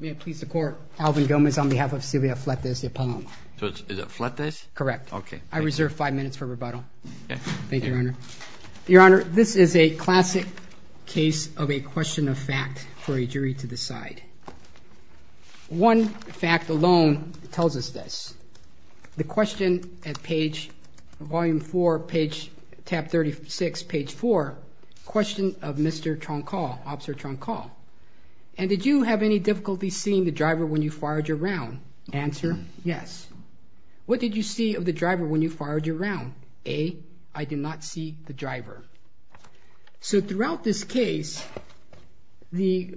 May I please the court, Alvin Gomez on behalf of Sylvia Fletes de Paloma. Is it Fletes? Correct. Okay. I reserve five minutes for rebuttal. Thank you, Your Honor. Your Honor, this is a classic case of a question of fact for a jury to decide. One fact alone tells us this. The question at page, volume 4, page, tab 36, page 4, question of Mr. Troncal, Officer Troncal. And did you have any difficulty seeing the driver when you fired your round? Answer, yes. What did you see of the driver when you fired your round? A, I did not see the driver. So throughout this case, the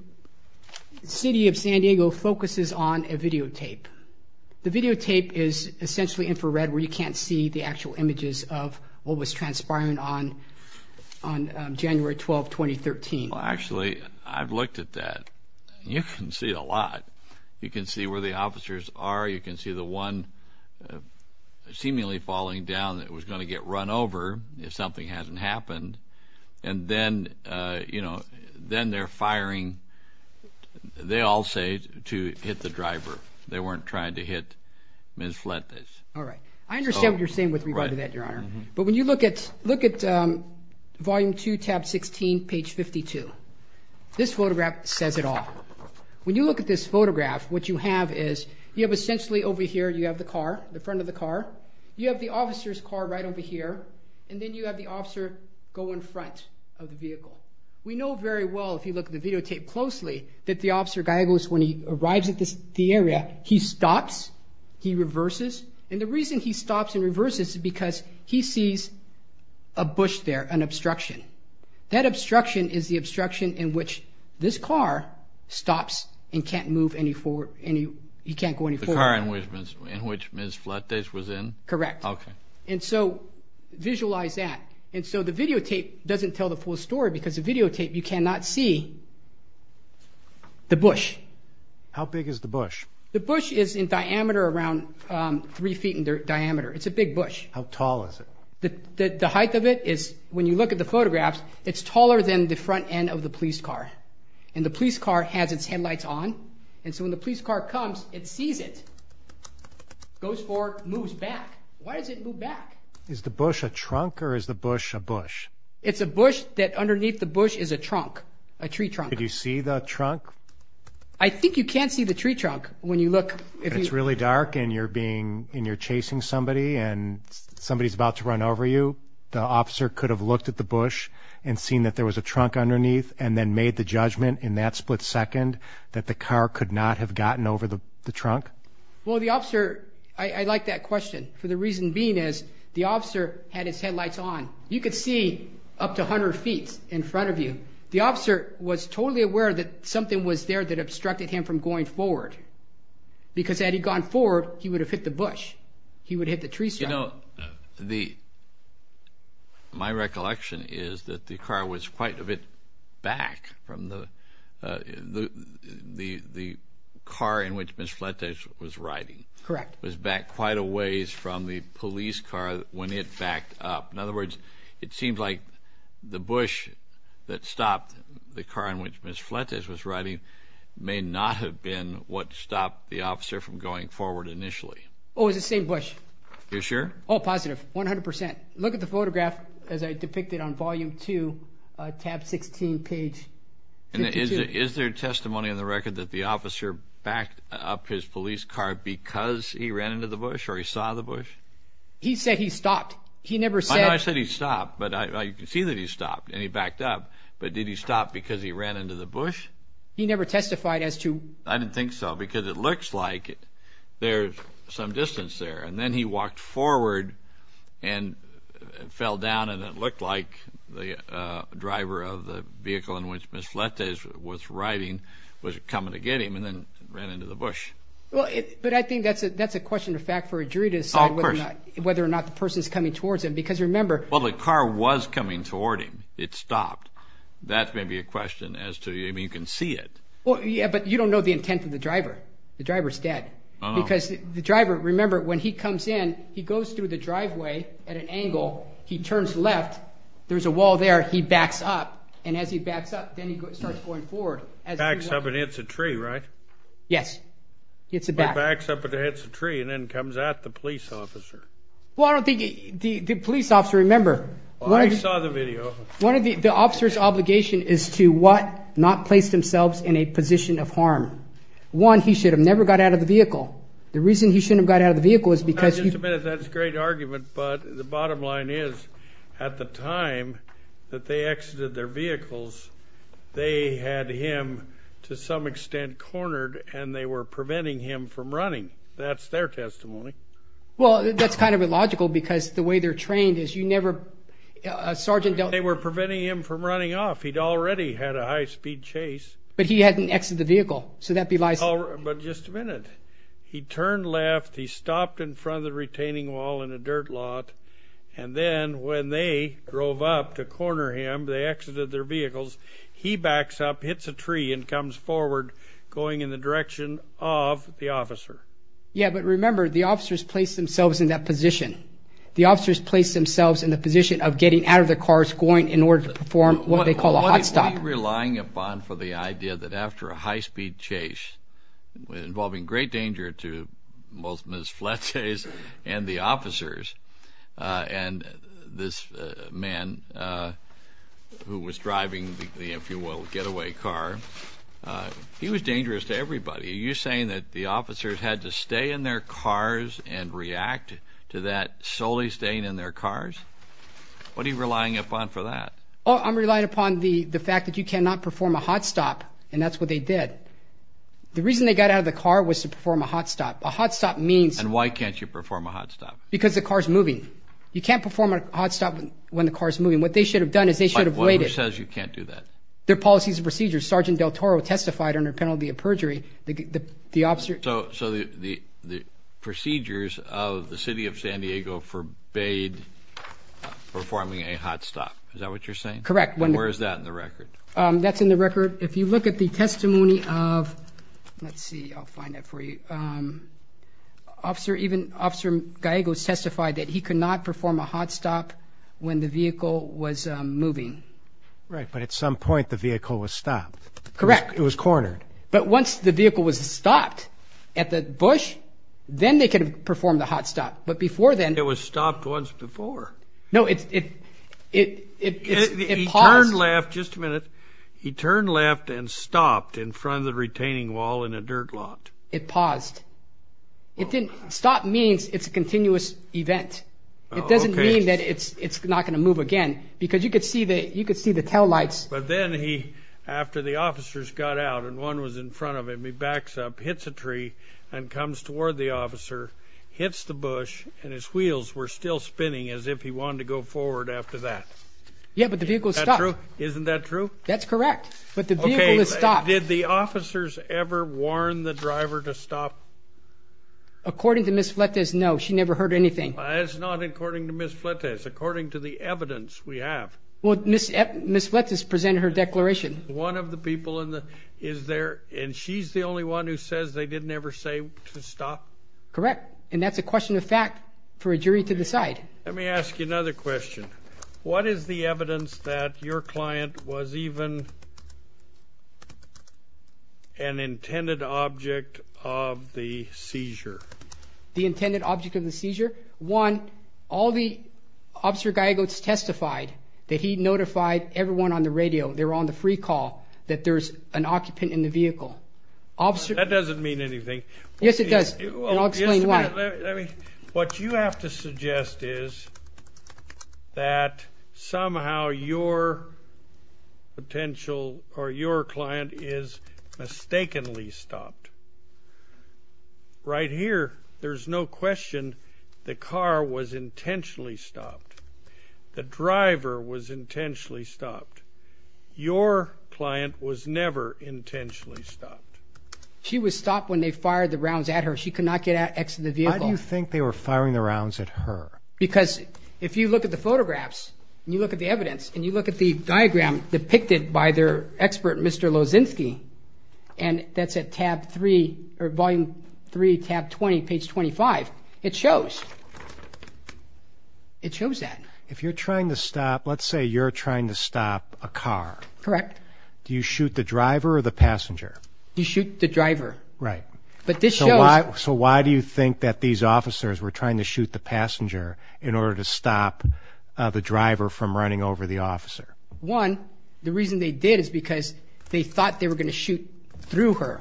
City of San Diego focuses on a videotape. The videotape is essentially infrared where you can't see the actual images of what was transpiring on on January 12, 2013. Well, actually, I've looked at that. You can see a lot. You can see where the officers are. You can see the one seemingly falling down that was going to get run over if something hasn't happened. And then, you know, then they're firing. They all say to hit the driver. They weren't trying to hit Ms. Fletes. All right. I understand what you're saying. Look at volume 2, tab 16, page 52. This photograph says it all. When you look at this photograph, what you have is, you have essentially over here, you have the car, the front of the car. You have the officer's car right over here. And then you have the officer go in front of the vehicle. We know very well, if you look at the videotape closely, that the Officer Gallegos, when he arrives at this, the area, he stops. He reverses. And the reason he stops and reverses is because he sees a bush there, an obstruction. That obstruction is the obstruction in which this car stops and can't move any forward, and you can't go any forward. The car in which Ms. Fletes was in? Correct. Okay. And so, visualize that. And so the videotape doesn't tell the full story because the videotape, you cannot see the bush. How big is the bush? The bush is in diameter around three feet in diameter. It's a big bush. How tall is it? The height of it is, when you look at the photographs, it's taller than the front end of the police car. And the police car has its headlights on. And so when the police car comes, it sees it. Goes for, moves back. Why does it move back? Is the bush a trunk or is the bush a bush? It's a bush that underneath the bush is a trunk, a tree trunk. Did you see the trunk? I think you can't see the tree trunk when you look. It's really dark and you're being, and you're chasing somebody and somebody's about to run over you. The officer could have looked at the bush and seen that there was a trunk underneath and then made the judgment in that split second that the car could not have gotten over the trunk? Well, the officer, I like that question for the reason being is the officer had his headlights on. You could see up to 100 feet in front of you. The officer was totally aware that something was there that obstructed him from going forward because had he gone forward, he would have hit the bush. He would hit the tree. You know, the, my recollection is that the car was quite a bit back from the, uh, the, the, the car in which Ms. Fletch was riding. Correct. Was back quite a ways from the police car when it backed up. In other words, it seems like the bush that stopped the car in which Ms. Fletch was riding may not have been what stopped the officer from going forward initially. Oh, is it same bush? You're sure? Oh, positive. 100%. Look at the photograph as I depicted on volume two, uh, tab 16 page. And is there testimony on the record that the officer backed up his police car because he ran into the bush or he saw the bush? He said he stopped. He never said I said he stopped, but I, you can see that he stopped and he backed up, but did he stop because he ran into the bush? He never testified as to, I didn't think so because it looks like it. There's some distance there. And then he walked forward and fell down. And it looked like the, uh, driver of the vehicle in which Ms. Fletch was riding was coming to get him and then ran into the bush. Well, but I think that's a, that's a question of fact for a jury to decide whether or not the person is coming towards him because remember, well, the car was coming toward him. It stopped. That may be a question as to, I mean, you can see it. Well, yeah, but you don't know the intent of the driver. The driver's dead because the driver, remember when he comes in, he goes through the driveway at an angle. He turns left. There's a wall there. He backs up. And as he backs up, then he starts going forward as it's a tree, right? Yes. It's a back. He backs up and hits a tree and then comes at the police officer. Well, I don't think the police officer, remember. Well, I saw the video. One of the officer's obligation is to what? Not place themselves in a position of harm. One, he should have never got out of the vehicle. The reason he shouldn't have got out of the vehicle is because he. Well, just a minute. That's a great argument, but the bottom line is at the time that they exited their vehicles, they had him to some extent cornered and they were preventing him from running. That's their testimony. Well, that's kind of illogical because the way they're trained is you never sergeant. They were preventing him from running off. He'd already had a high speed chase, but he hadn't exited the vehicle. So that be lies, but just a minute, he turned left. He stopped in front of the retaining wall in a dirt lot. And then when they drove up to corner him, they exited their vehicles. He backs up, hits a tree and comes forward going in the direction of the officer. Yeah, but remember, the officers place themselves in that position. The officers place themselves in the position of getting out of the cars going in order to perform what they call a hot stop. Are you relying upon for the idea that after a high speed chase involving great danger to both Ms. Fletchers and the officers and this man who was driving the, if you will, getaway car, he was dangerous to everybody. Are you saying that the officers had to stay in their cars and react to that solely staying in their cars? What are you relying upon for that? Oh, I'm relying upon the fact that you cannot perform a hot stop. And that's what they did. The reason they got out of the car was to perform a hot stop. A hot stop means. And why can't you perform a hot stop? Because the car's moving. You can't perform a hot stop when the car's moving. What they should have done is they should have waited. Says you can't do that. Their policies and procedures. Sergeant Del Toro testified under penalty of perjury. The officer. So the procedures of the city of San Diego forbade performing a hot stop. Is that what you're saying? Correct. When where is that in the record? That's in the record. If you look at the testimony of let's see, I'll find it for you. Officer, even Officer Gallegos testified that he could not perform a hot stop when the vehicle was moving. Right. But at some point, the vehicle was stopped. Correct. It was cornered. But once the vehicle was stopped at the bush, then they could perform the hot stop. But before then, it was stopped once before. No, it's it. It is. He turned left. Just a minute. He turned left and stopped in front of the retaining wall in a dirt lot. It paused. It didn't stop means it's a continuous event. It doesn't mean that it's it's not going to move again because you could see that you could see the tail lights. But then he after the officers got out and one was in front of him, he backs up, hits a tree and comes toward the officer, hits the bush and his wheels were still spinning as if he wanted to go forward after that. Yeah, but the vehicle stopped. Isn't that true? That's correct. But the vehicle is stopped. Did the officers ever warn the driver to stop? According to Miss Fletcher's? No, she never heard anything. It's not according to Miss Fletcher's. According to the evidence we have. Well, Miss Miss Fletcher's presented her declaration. One of the people in the is there and she's the only one who says they didn't ever say to stop. Correct. And that's a question of fact for a jury to decide. Let me ask you another question. What is the evidence that your client was even? An intended object of the seizure. The intended object of the seizure. One all the officer guy goes testified that he notified everyone on the radio. They were on the free call that there's an occupant in the vehicle officer. That doesn't mean anything. Yes, it does. And I'll explain why let me. What you have to suggest is. That somehow your potential or your client is mistakenly stopped right here. There's no question. The car was intentionally stopped. The driver was intentionally stopped. Your client was never intentionally stopped. She was stopped when they fired the rounds at her. She could not get out. Exit the vehicle. You think they were firing the rounds at her? Because if you look at the photographs and you look at the evidence and you look at the diagram depicted by their expert, Mr. Lozinski, and that's a tab three or volume three tab 20 page 25. It shows. It shows that if you're trying to stop, let's say you're trying to stop a car. Correct. Do you shoot the driver or the passenger? You shoot the driver, right? But this show so why do you think that these officers were trying to shoot the passenger? In order to stop the driver from running over the officer. One. The reason they did is because they thought they were going to shoot through her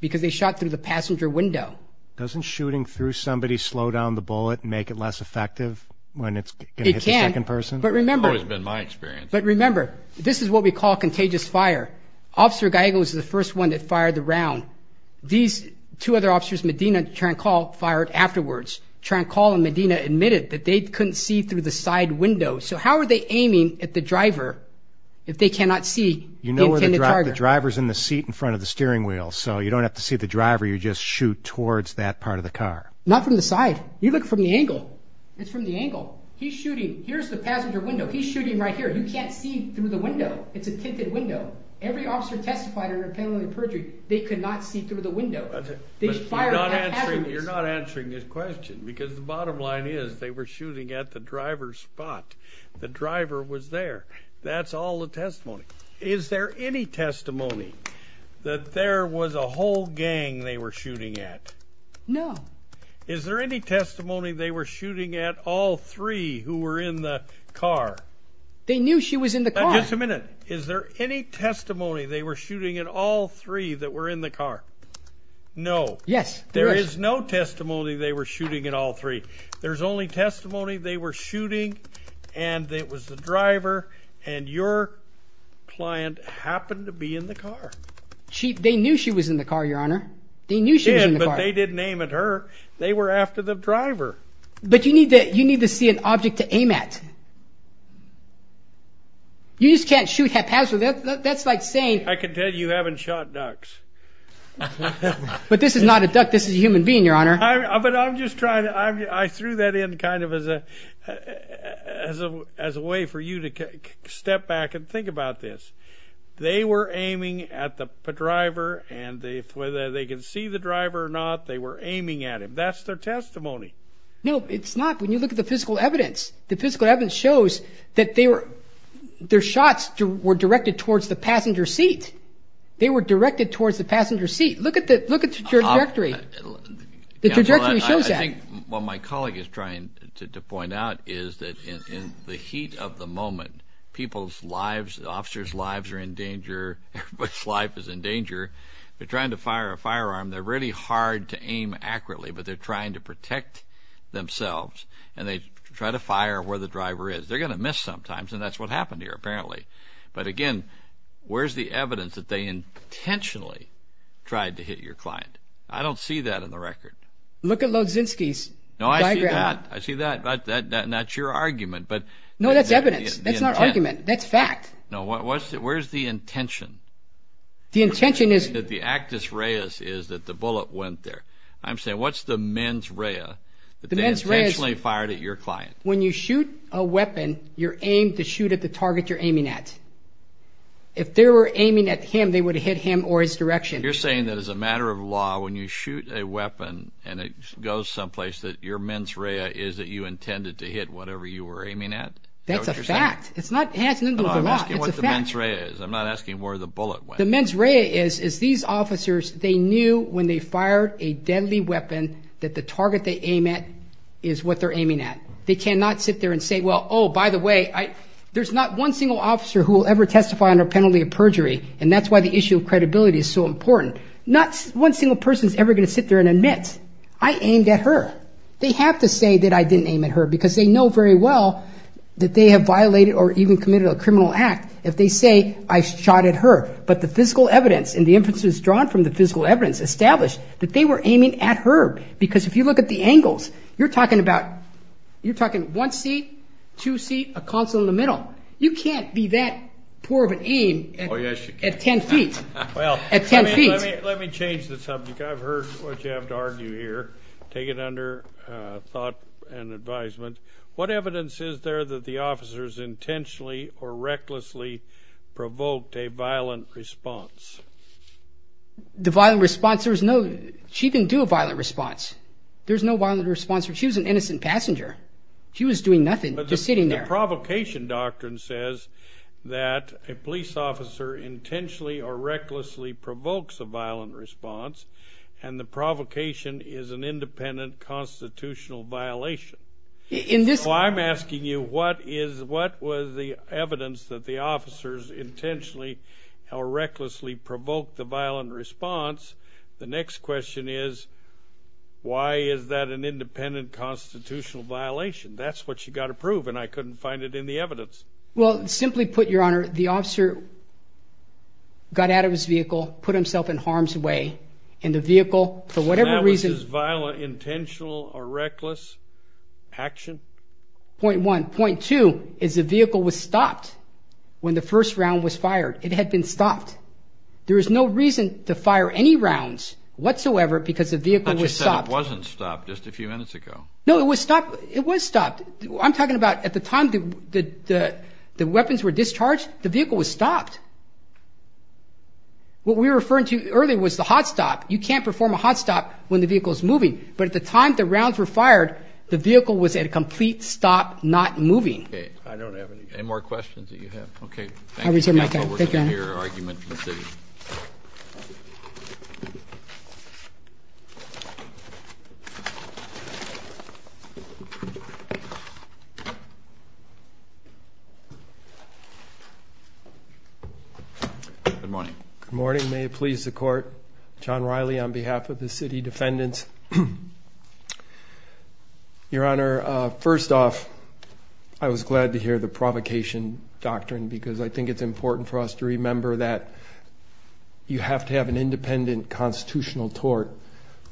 because they shot through the passenger window. Doesn't shooting through somebody slow down the bullet and make it less effective when it's a second person? But remember, it's been my experience. But remember, this is what we call contagious fire. Officer Geigel is the first one that fired the round. These two other officers, Medina, trying to call fired afterwards. Trying to call in Medina admitted that they couldn't see through the side window. So how are they aiming at the driver? If they cannot see, you know where the drivers in the seat in front of the steering wheel, so you don't have to see the driver. You just shoot towards that part of the car, not from the side. You look from the angle. It's from the angle. He's shooting. Here's the passenger window. He's shooting right here. You can't see through the window. It's a tinted window. Every officer testified in a penalty of perjury. They could not see through the window. You're not answering this question because the bottom line is they were shooting at the driver's spot. The driver was there. That's all the testimony. Is there any testimony that there was a whole gang they were shooting at? No. Is there any testimony they were shooting at all three who were in the car? They knew she was in the car. Just a minute. Is there any testimony they were shooting at all three that were in the car? No. There is no testimony they were shooting at all three. There's only testimony they were shooting and it was the driver and your client happened to be in the car. They knew she was in the car, Your Honor. They knew she was in the car. But they didn't aim at her. They were after the driver. But you need to see an object to aim at. You just can't shoot haphazardly. That's like saying... I can tell you haven't shot ducks. But this is not a duck. This is a human being, Your Honor. But I'm just trying to... I threw that in kind of as a way for you to step back and think about this. They were aiming at the driver and whether they could see the driver or not, they were aiming at him. That's their testimony. No, it's not. When you look at the physical evidence, the physical evidence shows that their shots were directed towards the passenger seat. They were directed towards the passenger seat. Look at the trajectory. The trajectory shows that. I think what my colleague is trying to point out is that in the heat of the moment, people's lives, officers' lives are in danger, everybody's life is in danger. They're trying to fire a firearm. They're really hard to aim accurately, but they're trying to protect themselves and they try to fire where the driver is. They're going to miss sometimes and that's what happened here apparently. But again, where's the evidence that they intentionally tried to hit your client? I don't see that in the record. Look at Logzinski's diagram. No, I see that. I see that. That's not your argument. No, that's evidence. That's not argument. That's fact. No, where's the intention? The intention is... That the actus reus is that the bullet went there. I'm saying what's the mens rea that they intentionally fired at your client? When you shoot a weapon, you're aimed to shoot at the target you're aiming at. If they were aiming at him, they would have hit him or his direction. You're saying that as a matter of law, when you shoot a weapon and it goes someplace, that your mens rea is that you intended to hit whatever you were aiming at? That's a fact. It's not... I'm asking what the mens rea is. I'm not asking where the bullet went. The mens rea is, is these officers, they knew when they fired a deadly weapon that the target they aim at is what they're aiming at. They cannot sit there and say, well, oh, by the way, I... There's not one single officer who will ever testify on a penalty of perjury, and that's why the issue of credibility is so important. Not one single person is ever going to sit there and admit, I aimed at her. They have to say that I didn't aim at her because they know very well that they have violated or even committed a criminal act if they say I shot at her. But the physical evidence and the inferences drawn from the physical evidence establish that they were aiming at her. Because if you look at the angles, you're talking about... You're talking one seat, two seat, a console in the middle. You can't be that poor of an aim at ten feet. Well, let me change the subject. I've heard what you have to argue here. Take it under thought and advisement. What evidence is there that the officers intentionally or recklessly provoked a violent response? The violent response? There's no... She didn't do a violent response. There's no violent response. She was an innocent passenger. She was doing nothing, just sitting there. But the provocation doctrine says that a police officer intentionally or recklessly provokes a violent response, and the provocation is an independent constitutional violation. In this... She provoked the violent response. The next question is, why is that an independent constitutional violation? That's what you got to prove, and I couldn't find it in the evidence. Well, simply put, Your Honor, the officer got out of his vehicle, put himself in harm's way, and the vehicle, for whatever reason... And that was his violent, intentional, or reckless action? Point one. There was no reason to fire any rounds whatsoever because the vehicle was stopped. But you said it wasn't stopped just a few minutes ago. No, it was stopped. It was stopped. I'm talking about at the time the weapons were discharged, the vehicle was stopped. What we were referring to earlier was the hot stop. You can't perform a hot stop when the vehicle is moving. But at the time the rounds were fired, the vehicle was at a complete stop, not moving. Okay. I don't have any... Any more questions that you have? Okay, thank you. I'll return my time. Thank you, Your Honor. We're going to hear an argument from the city. Good morning. Good morning. May it please the Court. John Riley on behalf of the city defendants. Your Honor, first off, I was glad to hear the provocation doctrine because I think it's important for us to remember that you have to have an independent constitutional tort.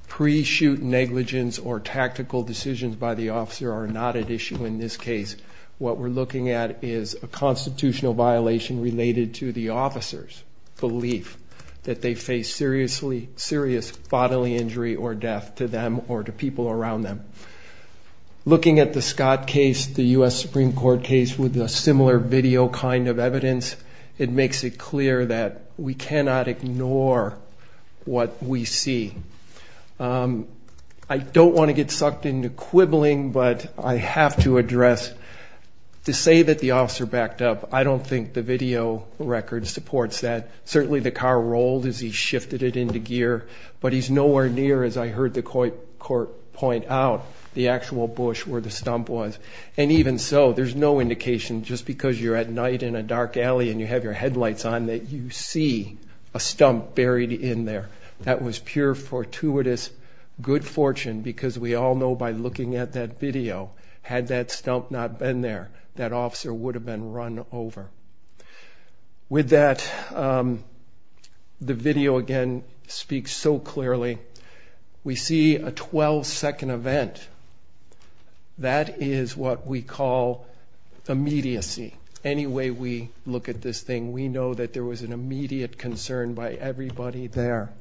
Pre-shoot negligence or tactical decisions by the officer are not at issue in this case. What we're looking at is a constitutional violation related to the officer's belief that they face serious bodily injury or death to them or to people around them. Looking at the Scott case, the U.S. Supreme Court case, with a similar video kind of evidence, it makes it clear that we cannot ignore what we see. I don't want to get sucked into quibbling, but I have to address, to say that the officer backed up, I don't think the video record supports that. Certainly the car rolled as he shifted it into gear, but he's nowhere near, as I heard the court point out, the actual bush where the stump was. And even so, there's no indication just because you're at night in a dark alley and you have your headlights on that you see a stump buried in there. That was pure fortuitous good fortune because we all know by looking at that video, had that stump not been there, that officer would have been run over. With that, the video again speaks so clearly. We see a 12-second event. That is what we call immediacy. Any way we look at this thing, we know that there was an immediate concern by everybody there.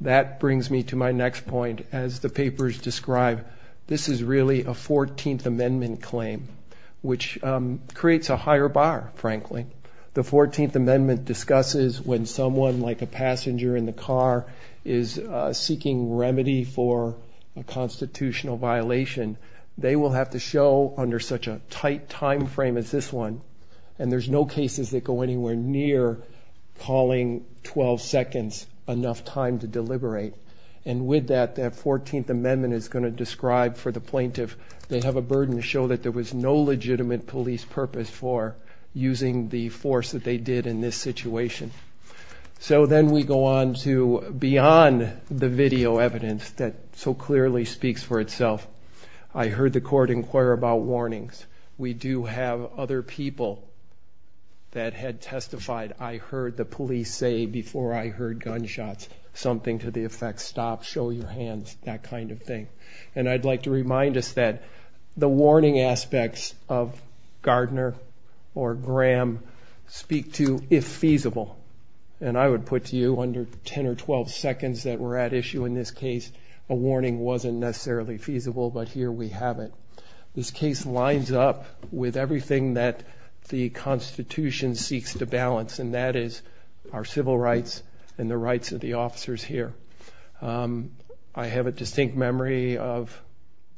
That brings me to my next point. As the papers describe, this is really a 14th Amendment claim, which creates a higher bar, frankly. The 14th Amendment discusses when someone, like a passenger in the car, is seeking remedy for a constitutional violation, they will have to show under such a tight time frame as this one, and there's no cases that go anywhere near calling 12 seconds enough time to deliberate. And with that, that 14th Amendment is going to describe for the plaintiff, they have a burden to show that there was no legitimate police purpose for using the force that they did in this situation. So then we go on to beyond the video evidence that so clearly speaks for itself. I heard the court inquire about warnings. We do have other people that had testified, I heard the police say before I heard gunshots, something to the effect, stop, show your hands, that kind of thing. And I'd like to remind us that the warning aspects of Gardner or Graham speak to if feasible. And I would put to you under 10 or 12 seconds that were at issue in this case, a warning wasn't necessarily feasible, but here we have it. This case lines up with everything that the Constitution seeks to balance, and that is our civil rights and the rights of the officers here. I have a distinct memory of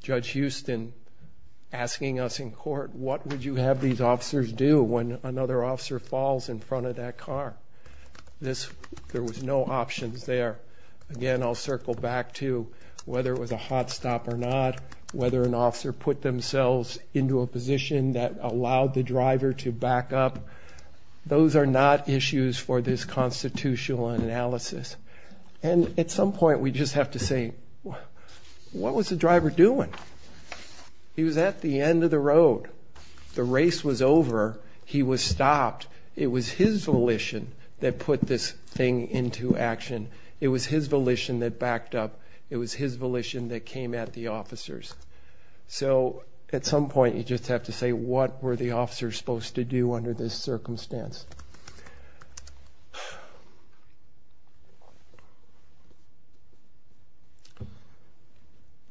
Judge Houston asking us in court, what would you have these officers do when another officer falls in front of that car? There was no options there. Again, I'll circle back to whether it was a hot stop or not, whether an officer put themselves into a position that allowed the driver to back up. Those are not issues for this constitutional analysis. And at some point we just have to say, what was the driver doing? He was at the end of the road. The race was over. He was stopped. It was his volition that put this thing into action. It was his volition that backed up. It was his volition that came at the officers. So at some point you just have to say, what were the officers supposed to do under this circumstance?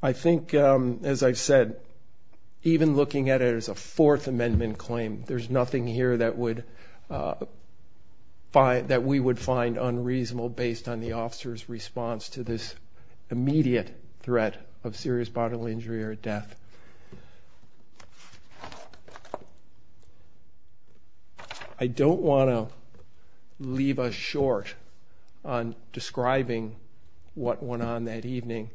I think, as I've said, even looking at it as a Fourth Amendment claim, there's nothing here that we would find unreasonable based on the officer's response to this immediate threat of serious bodily injury or death. I don't want to leave us short on describing what went on that evening.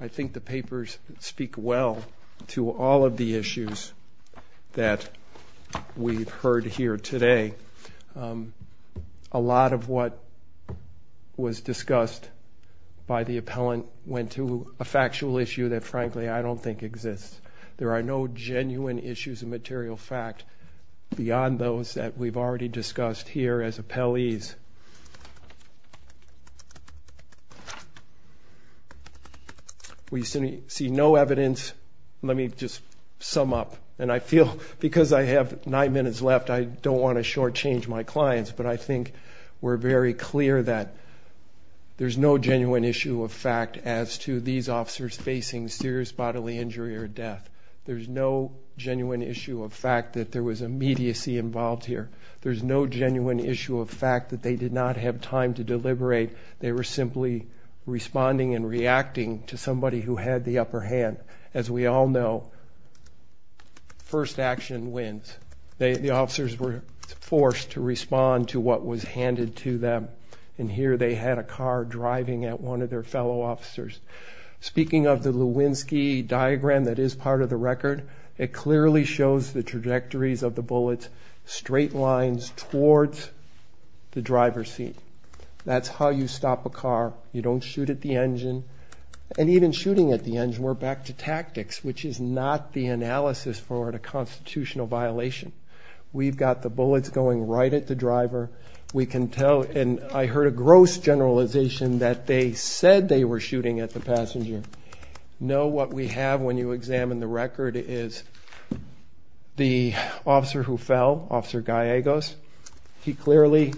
I think the papers speak well to all of the issues that we've heard here today. A lot of what was discussed by the appellant went to a factual issue that, frankly, I don't think exists. There are no genuine issues of material fact beyond those that we've already discussed here as appellees. We see no evidence. Let me just sum up. And I feel, because I have nine minutes left, I don't want to shortchange my clients, but I think we're very clear that there's no genuine issue of fact as to these officers facing serious bodily injury or death. There's no genuine issue of fact that there was immediacy involved here. There's no genuine issue of fact that they did not have time to deliberate. They were simply responding and reacting to somebody who had the upper hand. As we all know, first action wins. The officers were forced to respond to what was handed to them. And here they had a car driving at one of their fellow officers. Speaking of the Lewinsky diagram that is part of the record, it clearly shows the trajectories of the bullets, straight lines towards the driver's seat. That's how you stop a car. You don't shoot at the engine. And even shooting at the engine, we're back to tactics, which is not the analysis for a constitutional violation. We've got the bullets going right at the driver. We can tell, and I heard a gross generalization that they said they were shooting at the passenger. Know what we have when you examine the record is the officer who fell, Officer Gallegos, he clearly,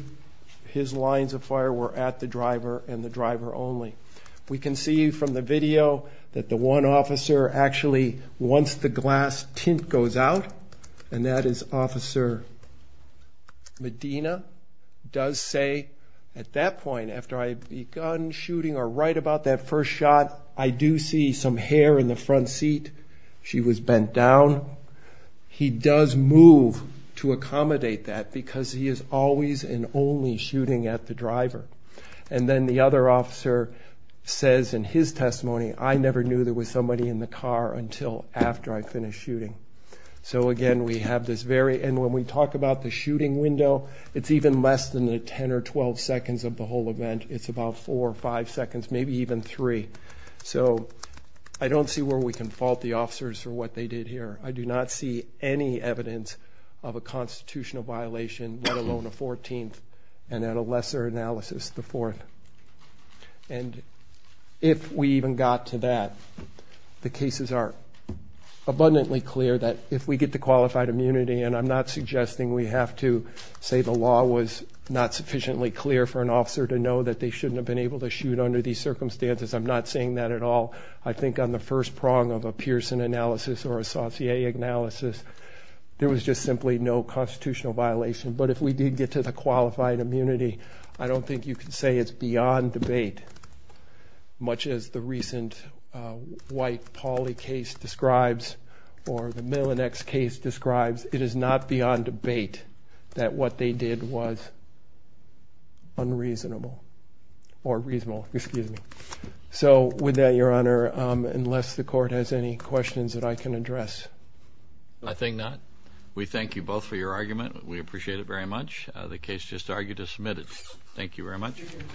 his lines of fire were at the driver and the driver only. We can see from the video that the one officer actually, once the glass tint goes out, and that is Officer Medina, does say at that point, after I had begun shooting or right about that first shot, I do see some hair in the front seat. She was bent down. He does move to accommodate that because he is always and only shooting at the driver. And then the other officer says in his testimony, I never knew there was somebody in the car until after I finished shooting. So again, we have this very, and when we talk about the shooting window, it's even less than the 10 or 12 seconds of the whole event. It's about four or five seconds, maybe even three. So I don't see where we can fault the officers for what they did here. I do not see any evidence of a constitutional violation, let alone a 14th, and at a lesser analysis, the fourth. And if we even got to that, the cases are abundantly clear that if we get the qualified immunity, and I'm not suggesting we have to say the law was not sufficiently clear for an officer to know that they shouldn't have been able to shoot under these circumstances. I'm not saying that at all. I think on the first prong of a Pearson analysis or a Saucier analysis, there was just simply no constitutional violation. But if we did get to the qualified immunity, I don't think you can say it's beyond debate. Much as the recent White-Pauly case describes or the Millinex case describes, it is not beyond debate that what they did was unreasonable or reasonable. So with that, Your Honor, unless the court has any questions that I can address. I think not. We thank you both for your argument. We appreciate it very much. The case just argued is submitted. Thank you very much.